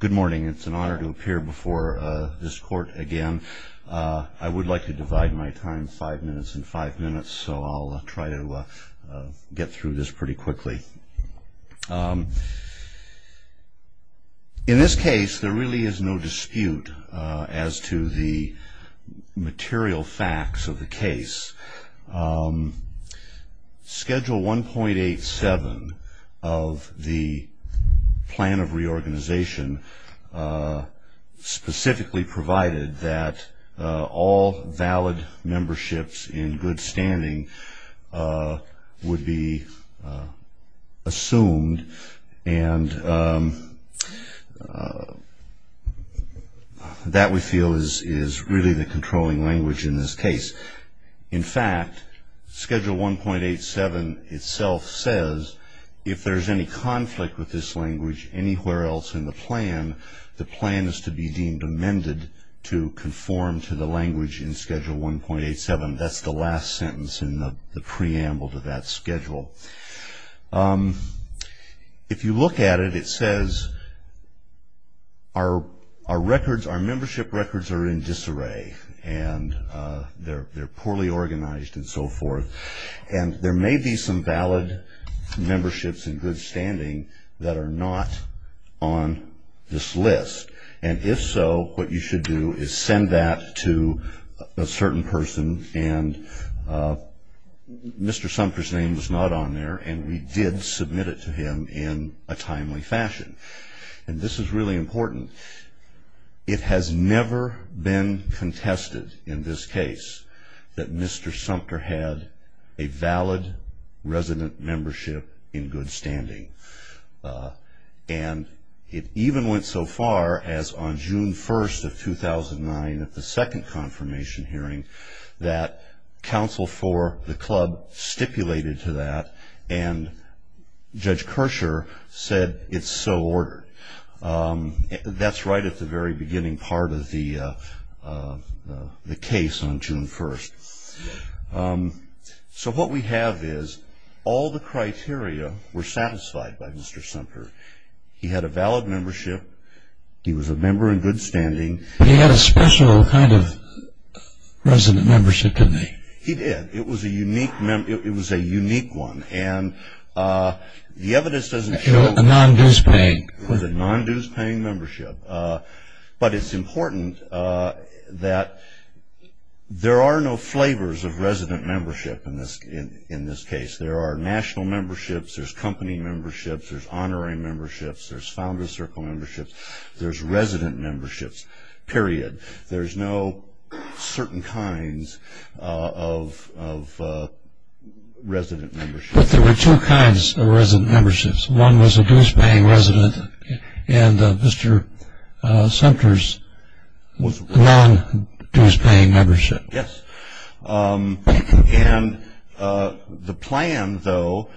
Good morning. It's an honor to appear before this court again. I would like to divide my time five minutes and five minutes, so I'll try to get through this pretty quickly. In this case, there really is no dispute as to the material facts of the case. Schedule 1.87 of the plan of reorganization specifically provided that all valid memberships in good standing would be assumed, and that we feel is really the controlling language in this case. In fact, Schedule 1.87 itself says if there's any conflict with this language anywhere else in the plan, the plan is to be deemed amended to conform to the language in Schedule 1.87. That's the last sentence in the preamble to that schedule. If you look at it, it says our records, our membership records are in disarray, and they're poorly organized and so forth. There may be some valid memberships in good standing that are not on this list, and if so, what you should do is send that to a certain person, and Mr. Sumpter's name was not on there, and we did submit it to him in a timely fashion. This is really important. It has never been contested in this case that Mr. Sumpter had a valid resident membership in good standing, and it even went so far as on June 1st of 2009 at the second confirmation hearing that counsel for the club stipulated to that, and Judge Kersher said it's so ordered. That's right at the very beginning part of the case on June 1st. So what we have is all the criteria were satisfied by Mr. Sumpter. He had a valid membership. He was a member in good standing. He had a special kind of resident membership to me. He did. It was a unique one, and the evidence doesn't show it. It was a non-dues paying membership. But it's important that there are no flavors of resident membership in this case. There are national memberships. There's company memberships. There's honorary memberships. There's founder's circle memberships. There's resident memberships, period. There's no certain kinds of resident memberships. But there were two kinds of resident memberships. One was a dues paying resident, and Mr. Sumpter's was a non-dues paying membership. Yes. And the plan, though,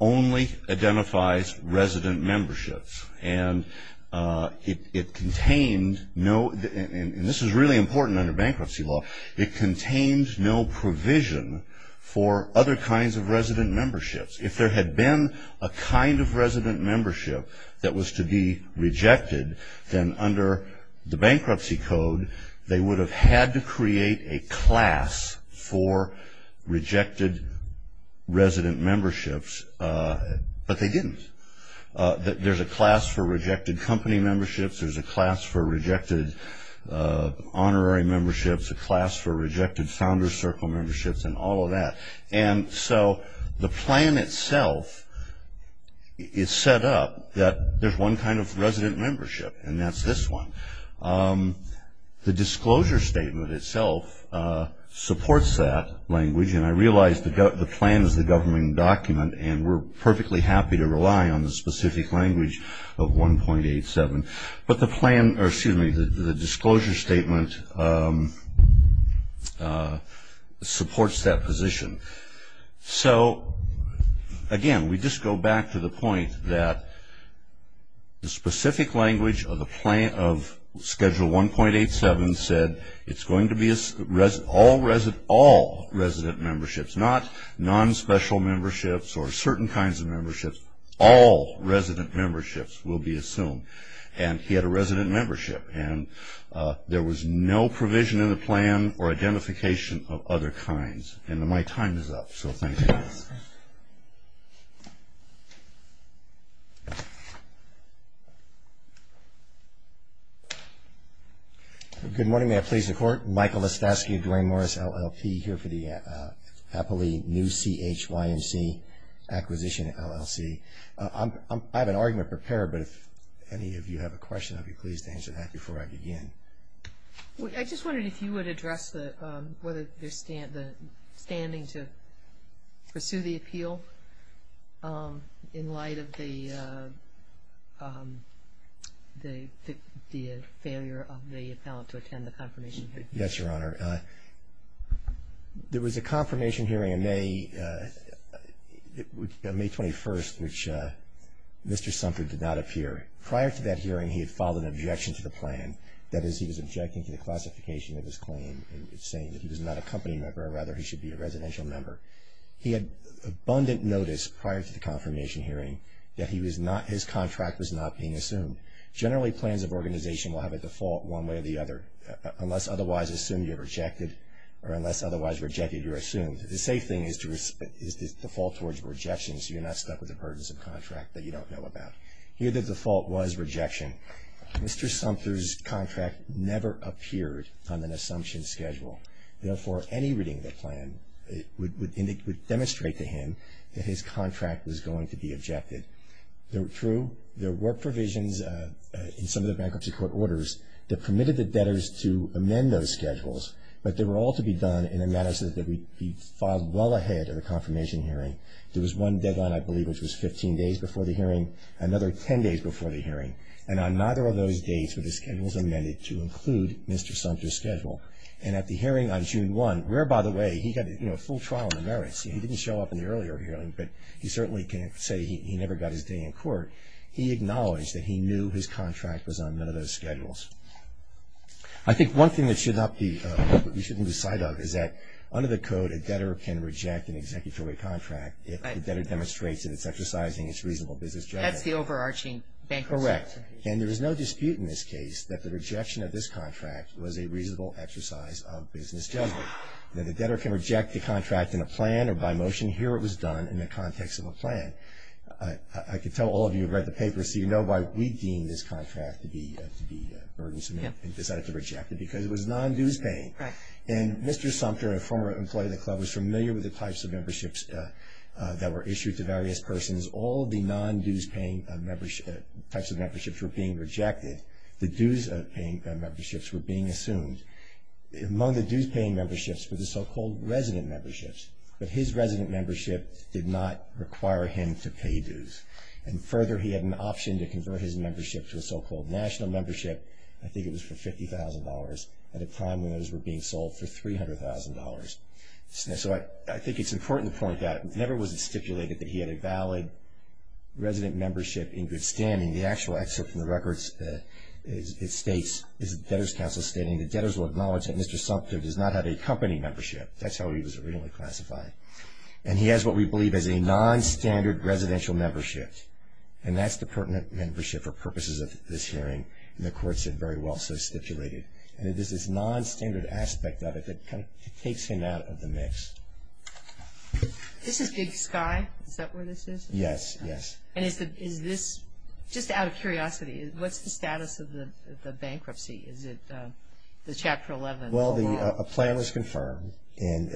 only identifies resident memberships, and it contained no, and this is really important under bankruptcy law, it contains no provision for other kinds of resident memberships. If there had been a kind of resident membership that was to be rejected, then under the bankruptcy code, they would have had to create a class for rejected resident memberships, but they didn't. There's a class for rejected company memberships. There's a class for rejected honorary memberships, a class for rejected founder's circle memberships, and all of that. And so the plan itself is set up that there's one kind of resident membership, and that's this one. The disclosure statement itself supports that language, and I realize the plan is the government document, and we're perfectly happy to rely on the specific language of 1.87, but the disclosure statement supports that position. So, again, we just go back to the point that the specific language of schedule 1.87 said it's going to be all resident memberships, not non-special memberships or certain kinds of memberships, all resident memberships will be assumed. And he had a resident membership, and there was no provision in the plan for identification of other kinds. And my time is up, so thank you. Thank you. Good morning. May I please the Court? Michael Estovsky, Dwayne Morris, LLP, here for the Apoly New CHYNC Acquisition LLC. I have an argument prepared, but if any of you have a question, I'd be pleased to answer that before I begin. I just wondered if you would address whether there's standing to pursue the appeal in light of the failure of the appellant to attend the confirmation hearing. The reason for that is he was objecting to the classification of his claim and saying that he was not a company member, or rather he should be a residential member. He had abundant notice prior to the confirmation hearing that his contract was not being assumed. Generally, plans of organization will have a default one way or the other. Unless otherwise assumed, you're rejected, or unless otherwise rejected, you're assumed. The safe thing is to fall towards rejection so you're not stuck with a burdensome contract that you don't know about. Here, the default was rejection. Mr. Sumter's contract never appeared on an assumption schedule. Therefore, any reading of the plan would demonstrate to him that his contract was going to be objected. True, there were provisions in some of the bankruptcy court orders that permitted the debtors to amend those schedules, but they were all to be done in a manner so that they would be filed well ahead of the confirmation hearing. There was one deadline, I believe, which was 15 days before the hearing, another 10 days before the hearing, and on neither of those dates were the schedules amended to include Mr. Sumter's schedule. And at the hearing on June 1, where, by the way, he got a full trial on the merits, he didn't show up in the earlier hearing, but he certainly can't say he never got his day in court, he acknowledged that he knew his contract was on none of those schedules. I think one thing that we shouldn't lose sight of is that under the code, a debtor can reject an executory contract if the debtor demonstrates that it's exercising its reasonable business judgment. That's the overarching bankruptcy procedure. Correct. And there is no dispute in this case that the rejection of this contract was a reasonable exercise of business judgment. Now, the debtor can reject the contract in a plan or by motion. Here, it was done in the context of a plan. I can tell all of you who have read the paper, so you know why we deem this contract to be burdensome and decided to reject it, because it was non-dues paying. And Mr. Sumter, a former employee of the club, was familiar with the types of memberships that were issued to various persons. All of the non-dues paying types of memberships were being rejected. The dues paying memberships were being assumed. Among the dues paying memberships were the so-called resident memberships. But his resident membership did not require him to pay dues. And further, he had an option to convert his membership to a so-called national membership. I think it was for $50,000 at a time when those were being sold for $300,000. So I think it's important to point out, it never was stipulated that he had a valid resident membership in good standing. The actual excerpt from the records, it states, is the Debtors Council stating, the debtors will acknowledge that Mr. Sumter does not have a company membership. That's how he was originally classified. And he has what we believe is a non-standard residential membership. And that's the pertinent membership for purposes of this hearing. And the court said very well, so it's stipulated. And it is this non-standard aspect of it that kind of takes him out of the mix. This is Big Sky. Is that where this is? Yes, yes. And is this, just out of curiosity, what's the status of the bankruptcy? Is it the Chapter 11? Well, a plan was confirmed. And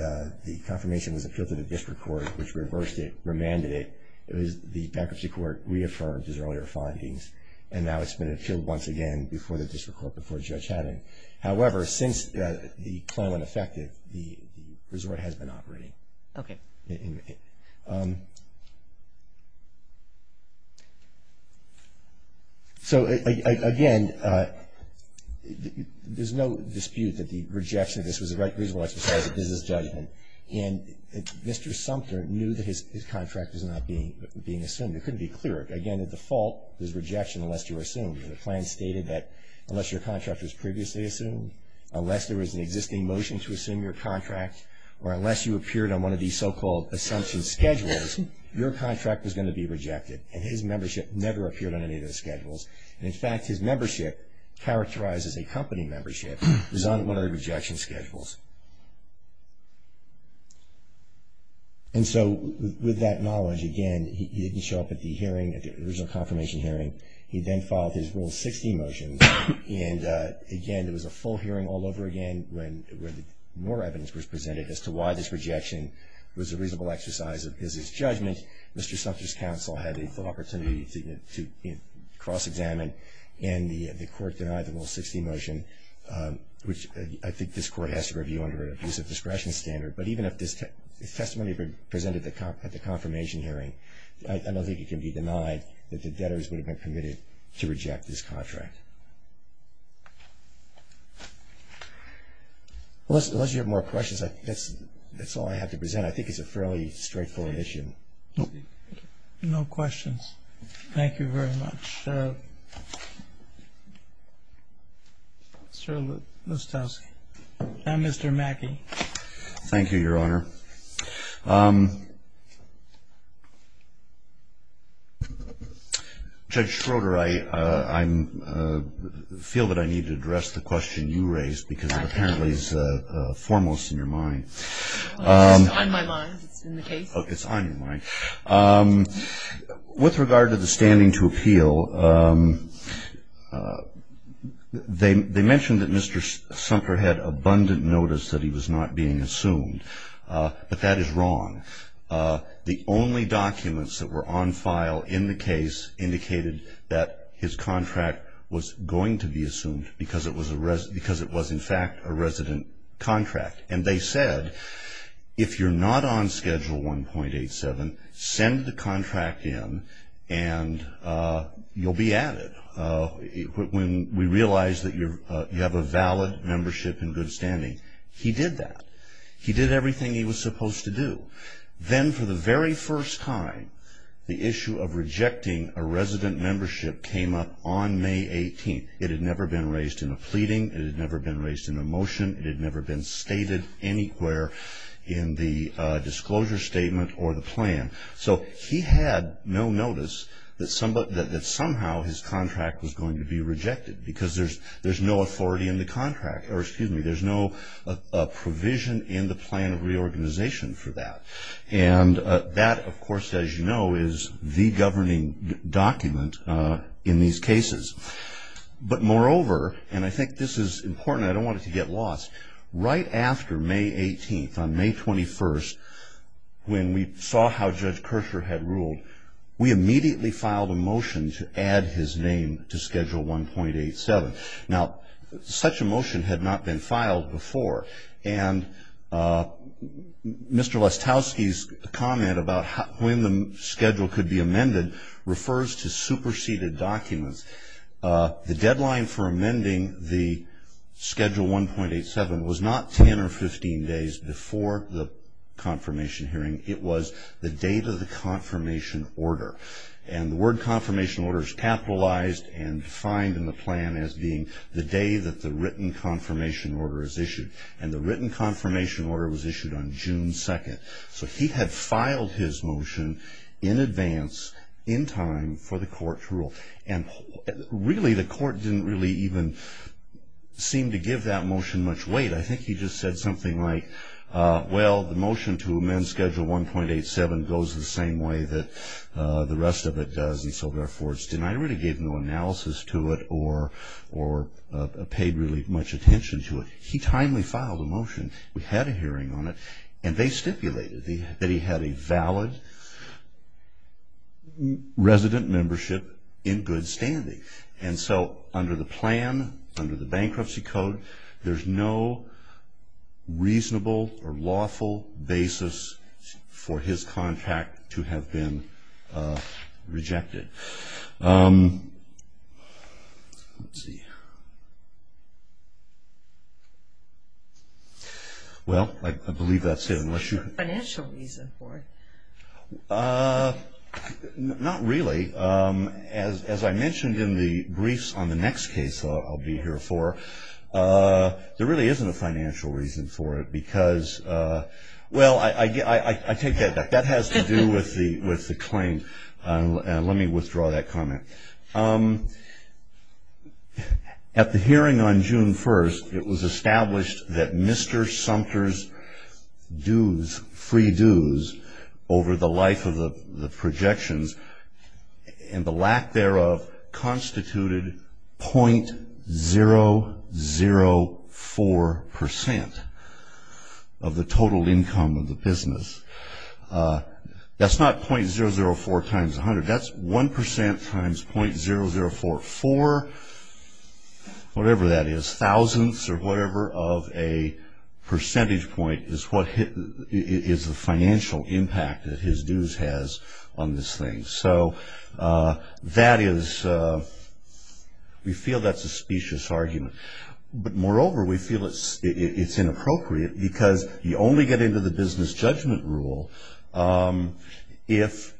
the confirmation was appealed to the district court, which reversed it, remanded it. The bankruptcy court reaffirmed his earlier findings. And now it's been appealed once again before the district court, before Judge Haddon. However, since the plan went effective, the resort has been operating. Okay. So, again, there's no dispute that the rejection of this was a reasonable exercise of business judgment. And Mr. Sumter knew that his contract was not being assumed. It couldn't be cleared. Again, the default was rejection unless you were assumed. And the plan stated that unless your contract was previously assumed, unless there was an existing motion to assume your contract, or unless you appeared on one of these so-called assumption schedules, your contract was going to be rejected. And his membership never appeared on any of the schedules. And, in fact, his membership, characterized as a company membership, was on one of the rejection schedules. And so, with that knowledge, again, he didn't show up at the hearing, at the original confirmation hearing. He then filed his Rule 60 motions. And, again, there was a full hearing all over again when more evidence was presented as to why this rejection was a reasonable exercise of business judgment. Mr. Sumter's counsel had the opportunity to cross-examine. And the Court denied the Rule 60 motion, which I think this Court has to review under an abusive discretion standard. But even if this testimony presented at the confirmation hearing, I don't think it can be denied that the debtors would have been committed to reject this contract. Unless you have more questions, that's all I have to present. I think it's a fairly straightforward issue. No questions. Thank you very much. Mr. Lustowski. And Mr. Mackey. Thank you, Your Honor. Judge Schroeder, I feel that I need to address the question you raised, because it apparently is foremost in your mind. It's on my mind. It's in the case. It's on your mind. With regard to the standing to appeal, they mentioned that Mr. Sumter had abundant notice that he was not being assumed. But that is wrong. The only documents that were on file in the case indicated that his contract was going to be assumed, because it was, in fact, a resident contract. And they said, if you're not on Schedule 1.87, send the contract in and you'll be added when we realize that you have a valid membership in good standing. He did that. He did everything he was supposed to do. Then, for the very first time, the issue of rejecting a resident membership came up on May 18th. It had never been raised in a pleading. It had never been raised in a motion. It had never been stated anywhere in the disclosure statement or the plan. So he had no notice that somehow his contract was going to be rejected, because there's no authority in the contract. Or, excuse me, there's no provision in the plan of reorganization for that. And that, of course, as you know, is the governing document in these cases. But, moreover, and I think this is important. I don't want it to get lost. Right after May 18th, on May 21st, when we saw how Judge Kirscher had ruled, we immediately filed a motion to add his name to Schedule 1.87. Now, such a motion had not been filed before. And Mr. Lestowski's comment about when the schedule could be amended refers to superseded documents. The deadline for amending the Schedule 1.87 was not 10 or 15 days before the confirmation hearing. It was the date of the confirmation order. And the word confirmation order is capitalized and defined in the plan as being the day that the written confirmation order is issued. And the written confirmation order was issued on June 2nd. So he had filed his motion in advance, in time, for the court to rule. And, really, the court didn't really even seem to give that motion much weight. I think he just said something like, well, the motion to amend Schedule 1.87 goes the same way that the rest of it does. And so, therefore, it's denied. I really gave no analysis to it or paid really much attention to it. He timely filed a motion. We had a hearing on it. And they stipulated that he had a valid resident membership in good standing. And so under the plan, under the bankruptcy code, there's no reasonable or lawful basis for his contract to have been rejected. Let's see. Well, I believe that's it. Is there a financial reason for it? Not really. As I mentioned in the briefs on the next case I'll be here for, there really isn't a financial reason for it because, well, I take that back. That has to do with the claim. Let me withdraw that comment. At the hearing on June 1st, it was established that Mr. Sumter's dues, free dues, over the life of the projections and the lack thereof, constituted .004% of the total income of the business. That's not .004 times 100. That's 1% times .0044, whatever that is, thousandths or whatever of a percentage point is what is the financial impact that his dues has on this thing. So that is, we feel that's a specious argument. But moreover, we feel it's inappropriate because you only get into the business judgment rule if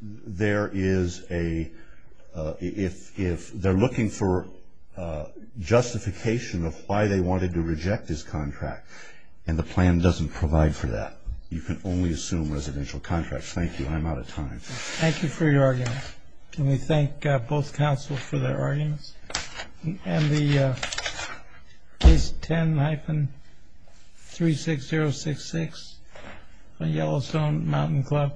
there is a, if they're looking for justification of why they wanted to reject this contract and the plan doesn't provide for that. You can only assume residential contracts. Thank you. I'm out of time. Thank you for your argument. Can we thank both counsel for their arguments? And the case 10-36066 on Yellowstone Mountain Club.